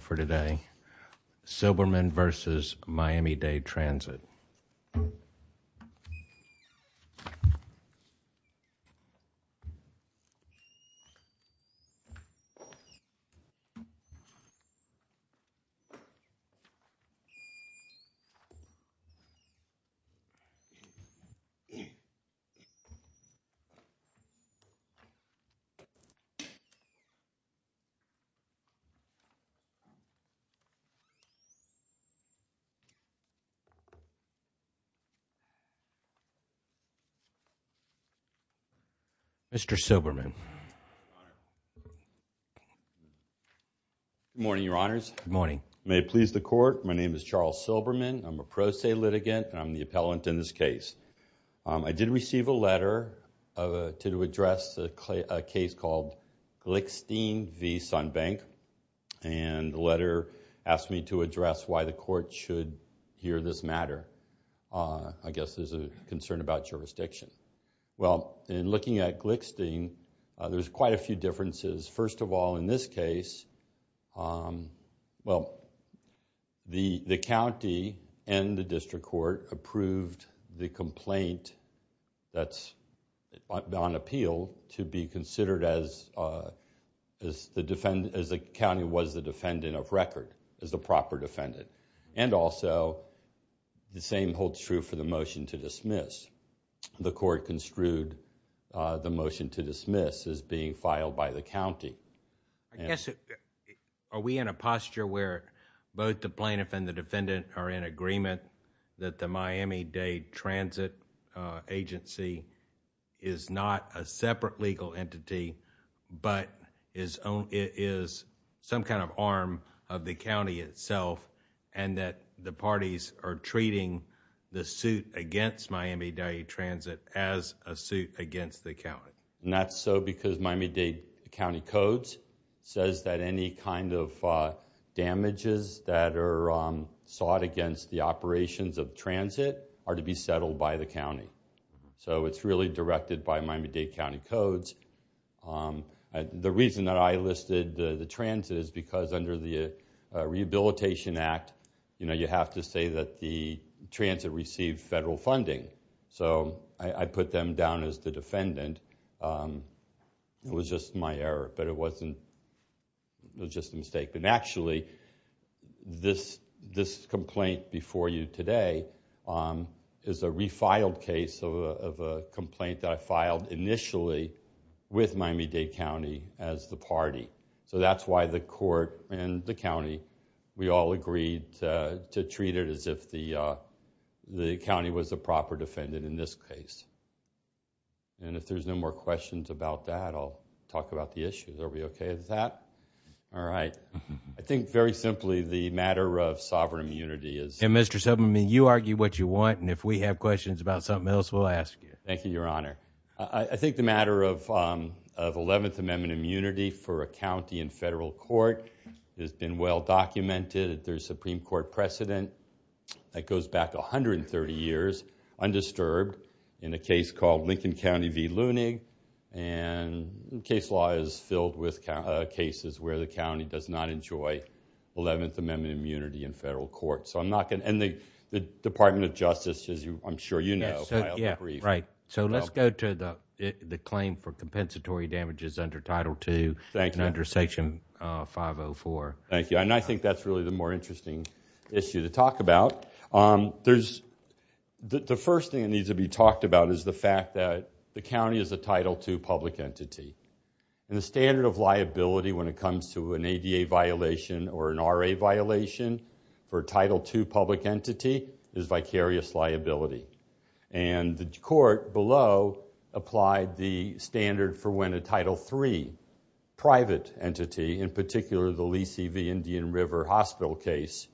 for today, Silberman v. Miami-Dade Transit. Mr. Silberman. Good morning, Your Honors. Good morning. May it please the Court, my name is Charles Silberman. I'm a pro se litigant and I'm the appellant in this case. I did receive a letter to address a case called Glickstein v. Sunbank, and the letter asked me to address why the Court should hear this matter. I guess there's a concern about jurisdiction. Well, in looking at Glickstein, there's quite a few differences. First of all, in this case, the county and the district court approved the complaint that's on appeal to be considered as the county was the defendant of record, as the proper defendant. And also, the same holds true for the motion to dismiss. The court construed the motion to dismiss as being filed by the county. I guess, are we in a posture where both the plaintiff and the defendant are in agreement that the Miami-Dade Transit Agency is not a separate legal entity, but is some kind of arm of the county itself, and that the parties are treating the suit against Miami-Dade Transit as a suit against the county? Not so, because Miami-Dade County Codes says that any kind of damages that are sought against the operations of transit are to be settled by the county. So it's really directed by Miami-Dade County Codes. The reason that I listed the transit is because under the Rehabilitation Act, you have to say that the transit received federal funding. So I put them down as the defendant, it was just my error, but it wasn't, it was just a mistake. And actually, this complaint before you today is a refiled case of a complaint that I filed initially with Miami-Dade County as the party. So that's why the court and the county, we all agreed to treat it as if the county was a proper defendant in this case. And if there's no more questions about that, I'll talk about the issues. Are we okay with that? All right. I think very simply, the matter of sovereign immunity is... And Mr. Subramanian, you argue what you want, and if we have questions about something else, we'll ask you. Thank you, Your Honor. I think the matter of Eleventh Amendment immunity for a county in federal court has been well documented at the Supreme Court precedent. That goes back 130 years, undisturbed, in a case called Lincoln County v. Lunig. And case law is filled with cases where the county does not enjoy Eleventh Amendment immunity in federal court. So I'm not going to... And the Department of Justice, as I'm sure you know, filed the brief. Right. So let's go to the claim for compensatory damages under Title II and under Section 504. Thank you. And I think that's really the more interesting issue to talk about. The first thing that needs to be talked about is the fact that the county is a Title II public entity. And the standard of liability when it comes to an ADA violation or an RA violation for Title II public entity is vicarious liability. And the court below applied the standard for when a Title III private entity, in particular the Lee C.V. Indian River Hospital case,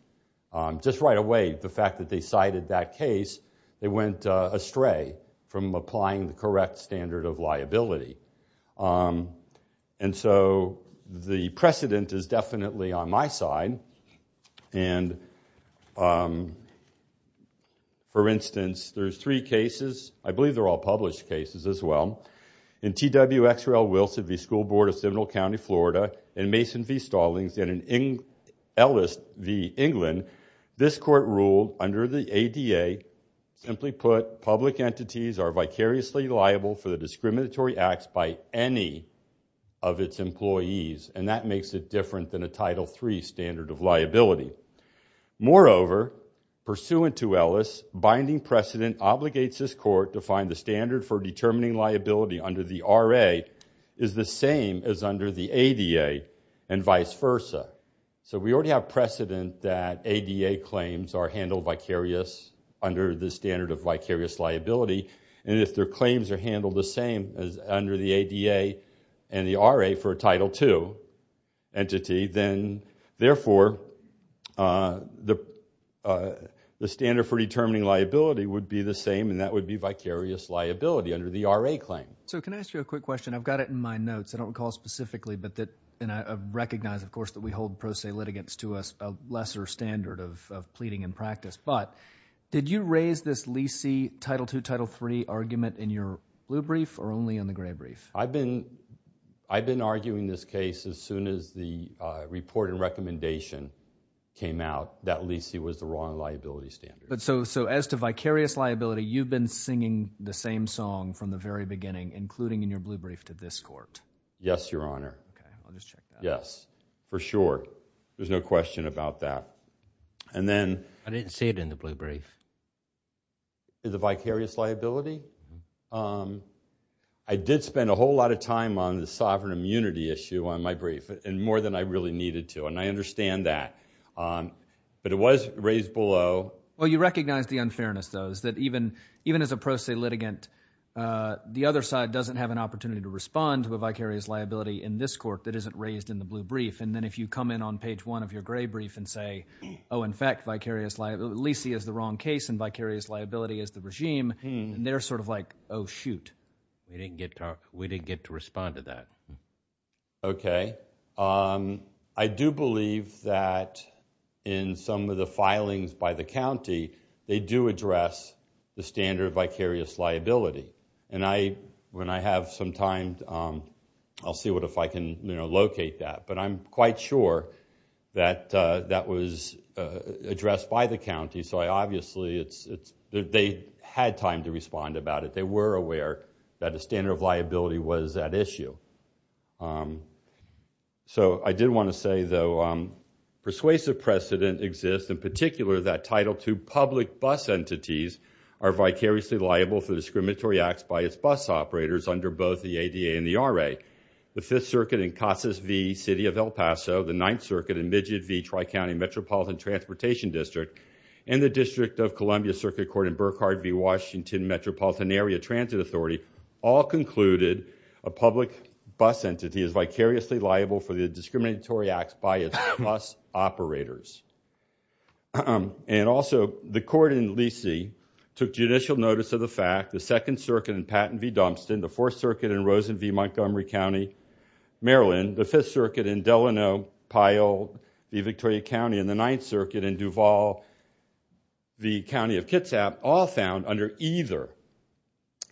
just right away, the fact that they cited that case, they went astray from applying the correct standard of liability. And so the precedent is definitely on my side. And, for instance, there's three cases, I believe they're all published cases as well. In T.W. X.R.L. Wilson v. School Board of Seminole County, Florida, in Mason v. Stallings, and in Ellis v. England, this court ruled under the ADA, simply put, public entities are vicariously liable for the discriminatory acts by any of its employees. And that makes it different than a Title III standard of liability. Moreover, pursuant to Ellis, binding precedent obligates this court to find the standard for determining liability under the RA is the same as under the ADA and vice versa. So we already have precedent that ADA claims are handled vicarious under the standard of vicarious liability. And if their claims are handled the same as under the ADA and the RA for a Title II entity, then therefore, the standard for determining liability would be the same, and that would be vicarious liability under the RA claim. So can I ask you a quick question? I've got it in my notes. I don't recall specifically, but that, and I recognize, of course, that we hold pro se litigants to a lesser standard of pleading and practice. But did you raise this leasee Title II, Title III argument in your blue brief or only in the gray brief? I've been arguing this case as soon as the report and recommendation came out that leasee was the wrong liability standard. So as to vicarious liability, you've been singing the same song from the very beginning, including in your blue brief, to this court? Yes, Your Honor. Okay. I'll just check that. Yes. For sure. There's no question about that. And then- I didn't see it in the blue brief. The vicarious liability? I did spend a whole lot of time on the sovereign immunity issue on my brief, and more than I really needed to, and I understand that. But it was raised below. Well, you recognize the unfairness, though, is that even as a pro se litigant, the other side doesn't have an opportunity to respond to a vicarious liability in this court that isn't raised in the blue brief. And then if you come in on page one of your gray brief and say, oh, in fact, leasee is the wrong case and vicarious liability is the regime, and they're sort of like, oh, shoot. We didn't get to respond to that. Okay. I do believe that in some of the filings by the county, they do address the standard of vicarious liability. And when I have some time, I'll see if I can locate that. But I'm quite sure that that was addressed by the county. So obviously, they had time to respond about it. They were aware that a standard of liability was at issue. So I did want to say, though, persuasive precedent exists, in particular, that Title II public bus entities are vicariously liable for the discriminatory acts by its bus operators under both the ADA and the RA. The Fifth Circuit in Casas V, City of El Paso, the Ninth Circuit in Midget V, Tri-County Metropolitan Transportation District, and the District of Columbia Circuit Court in Burkhardt v. Washington Metropolitan Area Transit Authority all concluded a public bus entity is vicariously liable for the discriminatory acts by its bus operators. And also, the court in Lee C took judicial notice of the fact the Second Circuit in Patton v. Dumpston, the Fourth Circuit in Rosen v. Montgomery County, Maryland, the Fifth Circuit in Delano Pyle v. Victoria County, and the Ninth Circuit in Duval v. County of Kitsap all found under either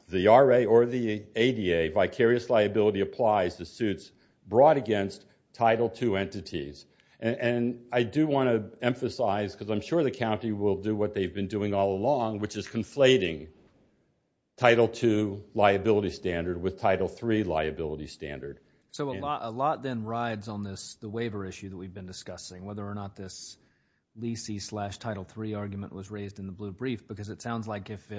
the RA or the ADA, vicarious liability applies to suits brought against Title II entities. And I do want to emphasize, because I'm sure the county will do what they've been doing all along, which is conflating Title II liability standard with Title III liability standard. So a lot then rides on the waiver issue that we've been discussing, whether or not this Lee C slash Title III argument was raised in the blue brief, because it sounds like if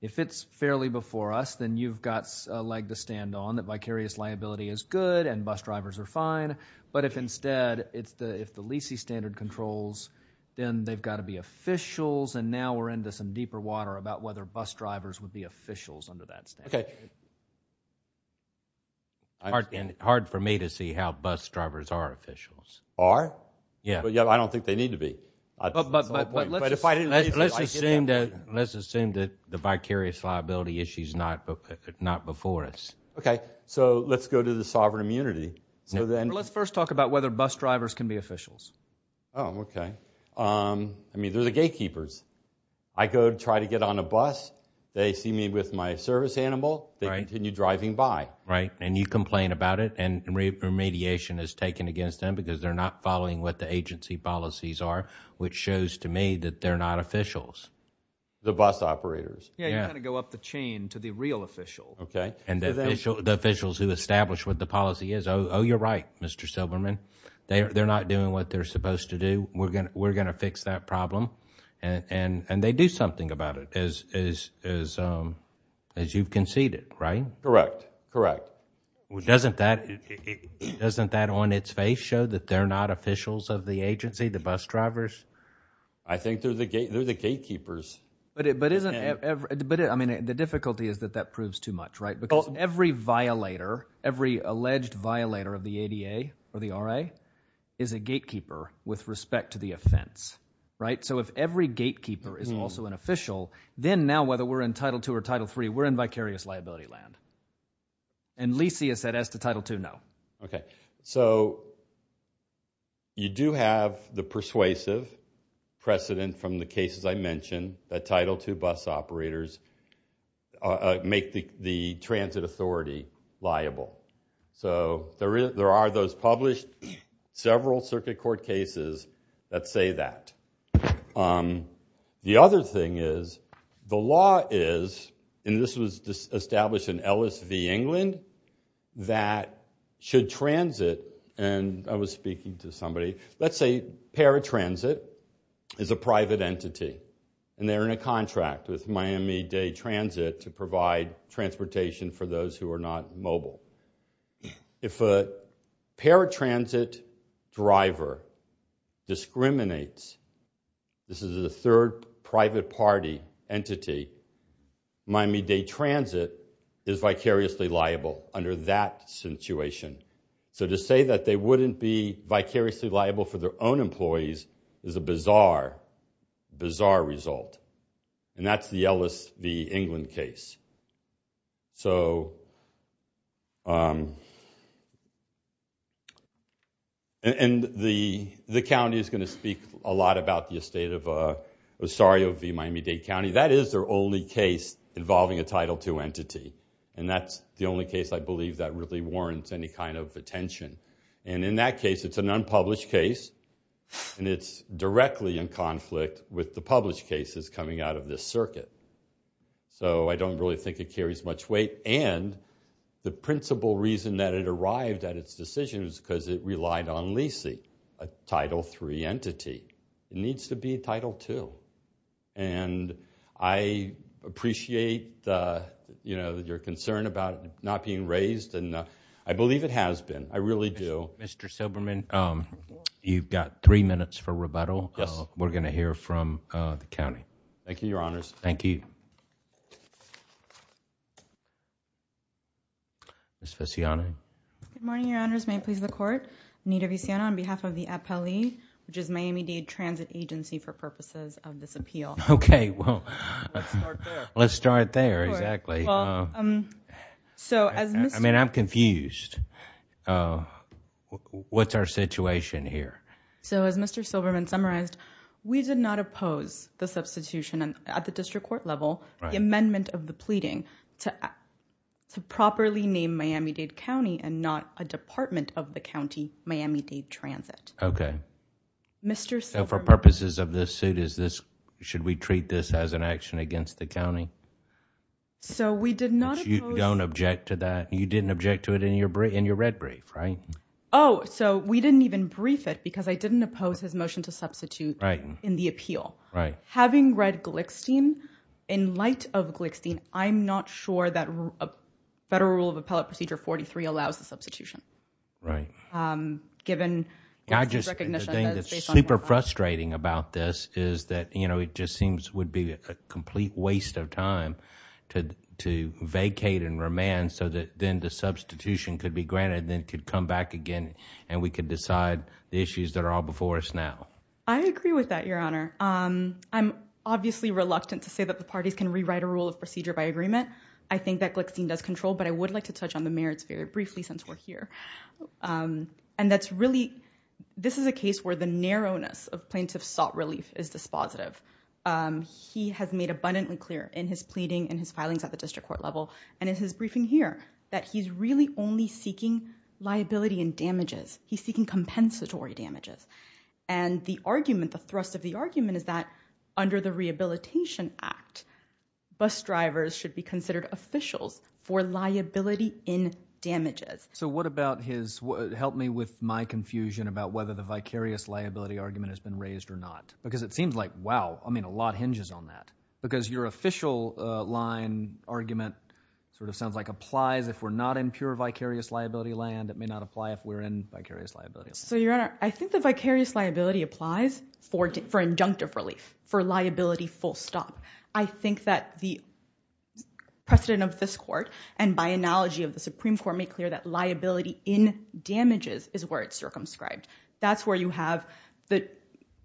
it's fairly before us, then you've got a leg to stand on, that vicarious liability is good and bus drivers are fine. But if instead, if the Lee C standard controls, then they've got to be officials, and now we're into some deeper water about whether bus drivers would be officials under that standard. Okay. Hard for me to see how bus drivers are officials. Are? Yeah. I don't think they need to be. But let's assume that the vicarious liability issue's not before us. Okay. So let's go to the sovereign immunity. Let's first talk about whether bus drivers can be officials. Oh, okay. I mean, they're the gatekeepers. I go try to get on a bus, they see me with my service animal, they continue driving by. Right, and you complain about it, and remediation is taken against them because they're not following what the agency policies are, which shows to me that they're not officials. The bus operators. Yeah, you've got to go up the chain to the real official. Okay. And the officials who establish what the policy is, oh, you're right, Mr. Silberman. They're not doing what they're supposed to do. We're going to fix that problem. And they do something about it, as you've conceded, right? Correct. Correct. Doesn't that, doesn't that on its face show that they're not officials of the agency, the bus drivers? I think they're the gatekeepers. But isn't, I mean, the difficulty is that that proves too much, right? Because every violator, every alleged violator of the ADA or the RA is a gatekeeper with respect to the offense, right? So if every gatekeeper is also an official, then now whether we're in Title II or Title III, we're in vicarious liability land. And Lisi has said as to Title II, no. Okay. So you do have the persuasive precedent from the cases I mentioned that Title II bus operators make the transit authority liable. So there are those published, several circuit court cases that say that. The other thing is, the law is, and this was established in LSV England, that should transit, and I was speaking to somebody, let's say paratransit is a private entity and they're in a contract with Miami-Dade Transit to provide transportation for those who are not mobile. If a paratransit driver discriminates, this is a third private party entity, Miami-Dade Transit is vicariously liable under that situation. So to say that they wouldn't be vicariously liable for their own employees is a bizarre, bizarre result. And that's the LSV England case. So, and the county is going to speak a lot about the estate of, sorry, of the Miami-Dade County. That is their only case involving a Title II entity. And that's the only case I believe that really warrants any kind of attention. And in that case, it's an unpublished case, and it's directly in conflict with the published cases coming out of this circuit. So I don't really think it carries much weight. And the principal reason that it arrived at its decision was because it relied on leasing a Title III entity. It needs to be a Title II. And I appreciate, you know, your concern about it not being raised, and I believe it has been. I really do. Mr. Silberman, you've got three minutes for rebuttal. Yes. We're going to hear from the county. Thank you, Your Honors. Thank you. Ms. Vecchione. Good morning, Your Honors. May it please the Court. Anita Vecchione on behalf of the APELI, which is Miami-Dade Transit Agency for purposes of this appeal. Okay, well. Let's start there. Let's start there. Exactly. Well, so as Mr. I mean, I'm confused. What's our situation here? So as Mr. Silberman summarized, we did not oppose the substitution. At the district court level, the amendment of the pleading to properly name Miami-Dade County and not a department of the county, Miami-Dade Transit. Okay. So for purposes of this suit, should we treat this as an action against the county? So we did not oppose. But you don't object to that. You didn't object to it in your red brief, right? Oh, so we didn't even brief it because I didn't oppose his motion to substitute in the appeal. Right. Having read Glickstein, in light of Glickstein, I'm not sure that a Federal Rule of Appellate Procedure 43 allows the substitution. Right. Given Glickstein's recognition that it's based on the law. I just, the thing that's super frustrating about this is that, you know, it just seems would be a complete waste of time to vacate and remand so that then the substitution could be granted and then it could come back again and we could decide the issues that are all before us now. I agree with that, Your Honor. I'm obviously reluctant to say that the parties can rewrite a rule of procedure by agreement. I think that Glickstein does control, but I would like to touch on the merits very briefly since we're here. And that's really, this is a case where the narrowness of plaintiff's sought relief is dispositive. He has made abundantly clear in his pleading and his filings at the district court level and in his briefing here that he's really only seeking liability and damages. He's seeking compensatory damages. And the argument, the thrust of the argument is that under the Rehabilitation Act, bus drivers should be considered officials for liability in damages. So what about his, help me with my confusion about whether the vicarious liability argument has been raised or not. Because it seems like, wow, I mean a lot hinges on that. Because your official line argument sort of sounds like applies if we're not in pure vicarious liability land. It may not apply if we're in vicarious liability land. So, Your Honor, I think the vicarious liability applies for injunctive relief, for liability full stop. I think that the precedent of this court and by analogy of the Supreme Court made clear that liability in damages is where it's circumscribed. That's where you have,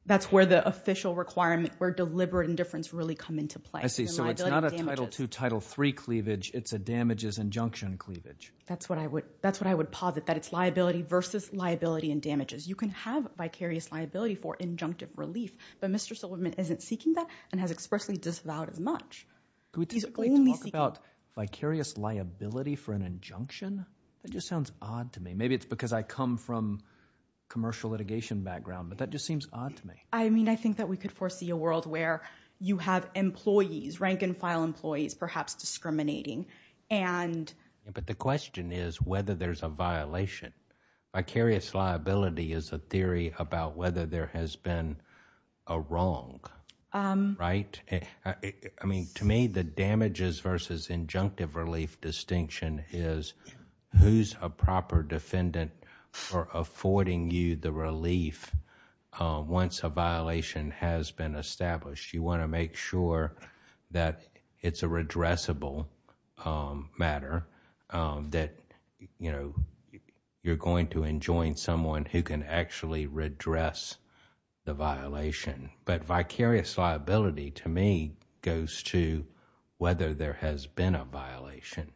that's where the official requirement where deliberate indifference really come into play. I see. So it's not a Title II, Title III cleavage, it's a damages injunction cleavage. That's what I would, that's what I would posit. That it's liability versus liability in damages. You can have vicarious liability for injunctive relief, but Mr. Silverman isn't seeking that and has expressly disavowed as much. Can we talk about vicarious liability for an injunction? That just sounds odd to me. Maybe it's because I come from commercial litigation background, but that just seems odd to me. I mean, I think that we could foresee a world where you have employees, rank and file employees, perhaps discriminating and. But the question is whether there's a violation. Vicarious liability is a theory about whether there has been a wrong, right? I mean, to me the damages versus injunctive relief distinction is who's a proper defendant for affording you the relief once a violation has been established. You want to make sure that it's a redressable matter, that, you know, you're going to enjoin someone who can actually redress the violation. But vicarious liability to me goes to whether there has been a violation.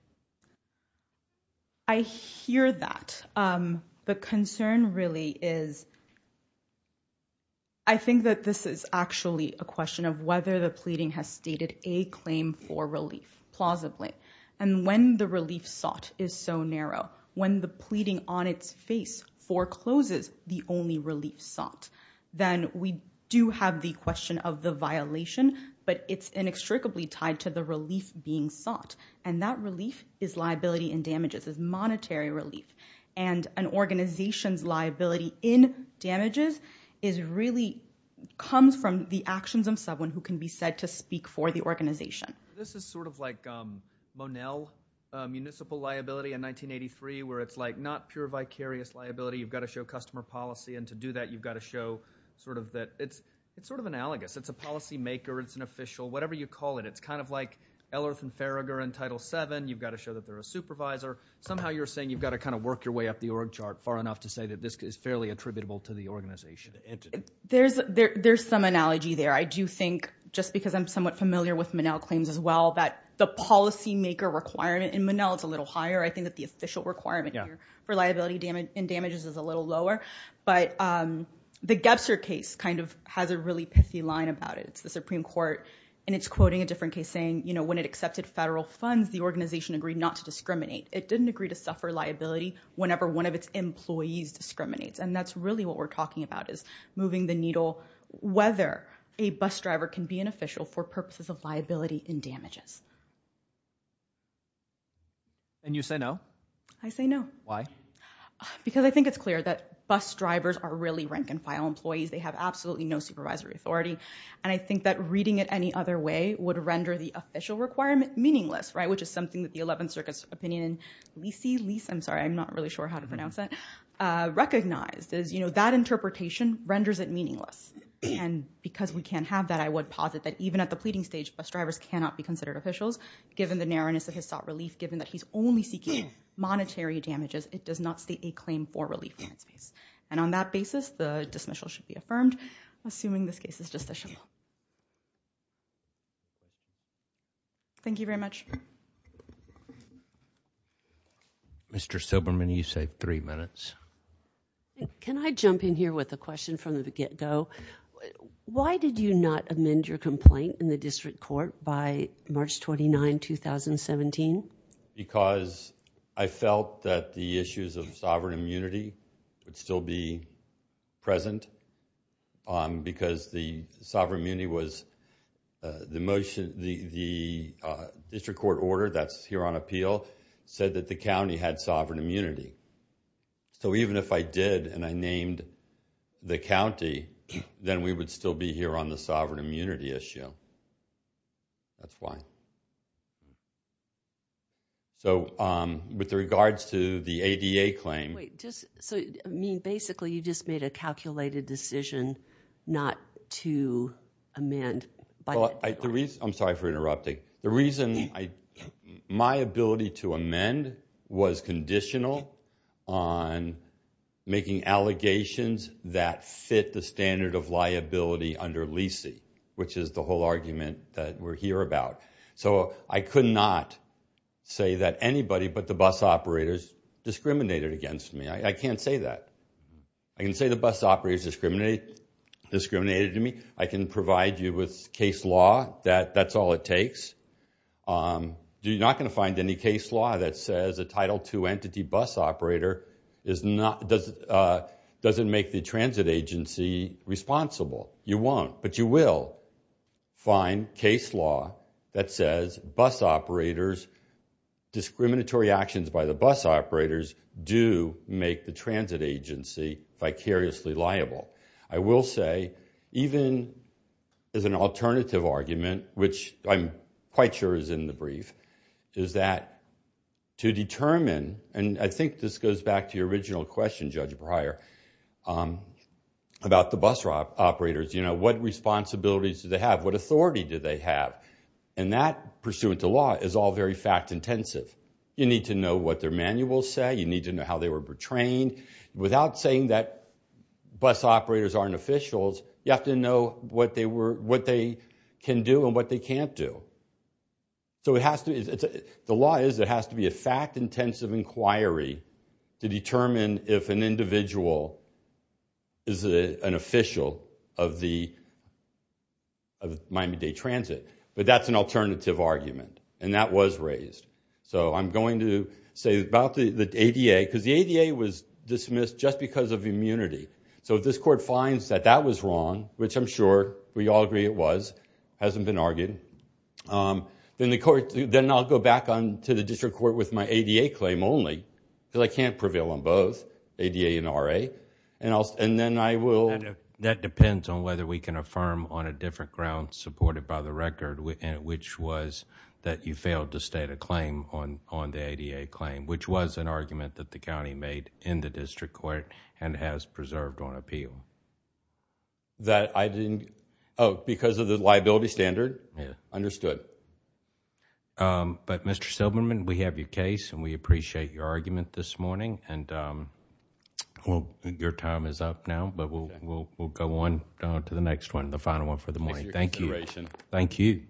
I hear that. The concern really is, I think that this is actually a question of whether the pleading has stated a claim for relief, plausibly. And when the relief sought is so narrow, when the pleading on its face forecloses the only relief sought, then we do have the question of the violation, but it's inextricably tied to the relief being sought. And that relief is liability in damages, is monetary relief. And an organization's liability in damages is really comes from the actions of someone who can be said to speak for the organization. This is sort of like Monell municipal liability in 1983 where it's like not pure vicarious liability. You've got to show customer policy and to do that you've got to show sort of that it's sort of analogous. It's a policymaker. It's an official. Whatever you call it. It's kind of like Ellerth and Farragher in Title VII. You've got to show that they're a supervisor. Somehow you're saying you've got to kind of work your way up the org chart far enough to say that this is fairly attributable to the organization. There's some analogy there. I do think, just because I'm somewhat familiar with Monell claims as well, that the policymaker requirement in Monell is a little higher. I think that the official requirement for liability in damages is a little lower. But the Gebster case kind of has a really pithy line about it. It's the Supreme Court and it's quoting a different case saying, you know, when it accepted federal funds, the organization agreed not to discriminate. It didn't agree to suffer liability whenever one of its employees discriminates. And that's really what we're talking about is moving the needle whether a bus driver can be an official for purposes of liability in damages. And you say no? I say no. Why? Because I think it's clear that bus drivers are really rank and file employees. They have absolutely no supervisory authority. And I think that reading it any other way would render the official requirement meaningless, which is something that the 11th Circuit's opinion, Lisi, I'm sorry, I'm not really sure how to pronounce that, recognized is that interpretation renders it meaningless. And because we can't have that, I would posit that even at the pleading stage, bus drivers cannot be considered officials given the narrowness of his sought relief, given that he's only seeking monetary damages. It does not state a claim for relief in that space. And on that basis, the dismissal should be affirmed, assuming this case is just a dismissal. Thank you very much. Mr. Silberman, you say three minutes. Can I jump in here with a question from the get-go? Why did you not amend your complaint in the district court by March 29, 2017? Because I felt that the issues of sovereign immunity would still be present. Because the sovereign immunity was the motion, the district court order that's here on appeal said that the county had sovereign immunity. So even if I did and I named the county, then we would still be here on the sovereign immunity issue. That's why. So, with regards to the ADA claim... Wait, just... So, I mean, basically, you just made a calculated decision not to amend by... Well, I... The reason... I'm sorry for interrupting. The reason I... which is the whole argument that we're here about. So I could not say that anybody but the bus operators discriminated against me. I can't say that. I can say the bus operators discriminated against me. I can provide you with case law that that's all it takes. You're not going to find any case law that says a Title II entity bus operator is not... Doesn't make the transit agency responsible. You won't. But you will find case law that says bus operators... Discriminatory actions by the bus operators do make the transit agency vicariously liable. I will say, even as an alternative argument, which I'm quite sure is in the brief, is that to determine... And I think this goes back to your original question, Judge Breyer, about the bus operators. You know, what responsibilities do they have? What authority do they have? And that, pursuant to law, is all very fact-intensive. You need to know what their manuals say. You need to know how they were trained. Without saying that bus operators aren't officials, you have to know what they can do and what they can't do. So the law is there has to be a fact-intensive inquiry to determine if an individual is an official of Miami-Dade Transit. But that's an alternative argument, and that was raised. So I'm going to say about the ADA, because the ADA was dismissed just because of immunity. So if this Court finds that that was wrong, which I'm sure we all agree it was, hasn't been argued, then I'll go back to the district court with my ADA claim only, because I can't prevail on both, ADA and RA. And then I will... That depends on whether we can affirm on a different ground supported by the record, which was that you failed to state a claim on the ADA claim, which was an argument that the county made in the district court and has preserved on appeal. That I didn't... Oh, because of the liability standard? Yeah. Understood. But, Mr. Silberman, we have your case, and we appreciate your argument this morning. And your time is up now, but we'll go on to the next one, the final one for the morning. Thank you. Thank you.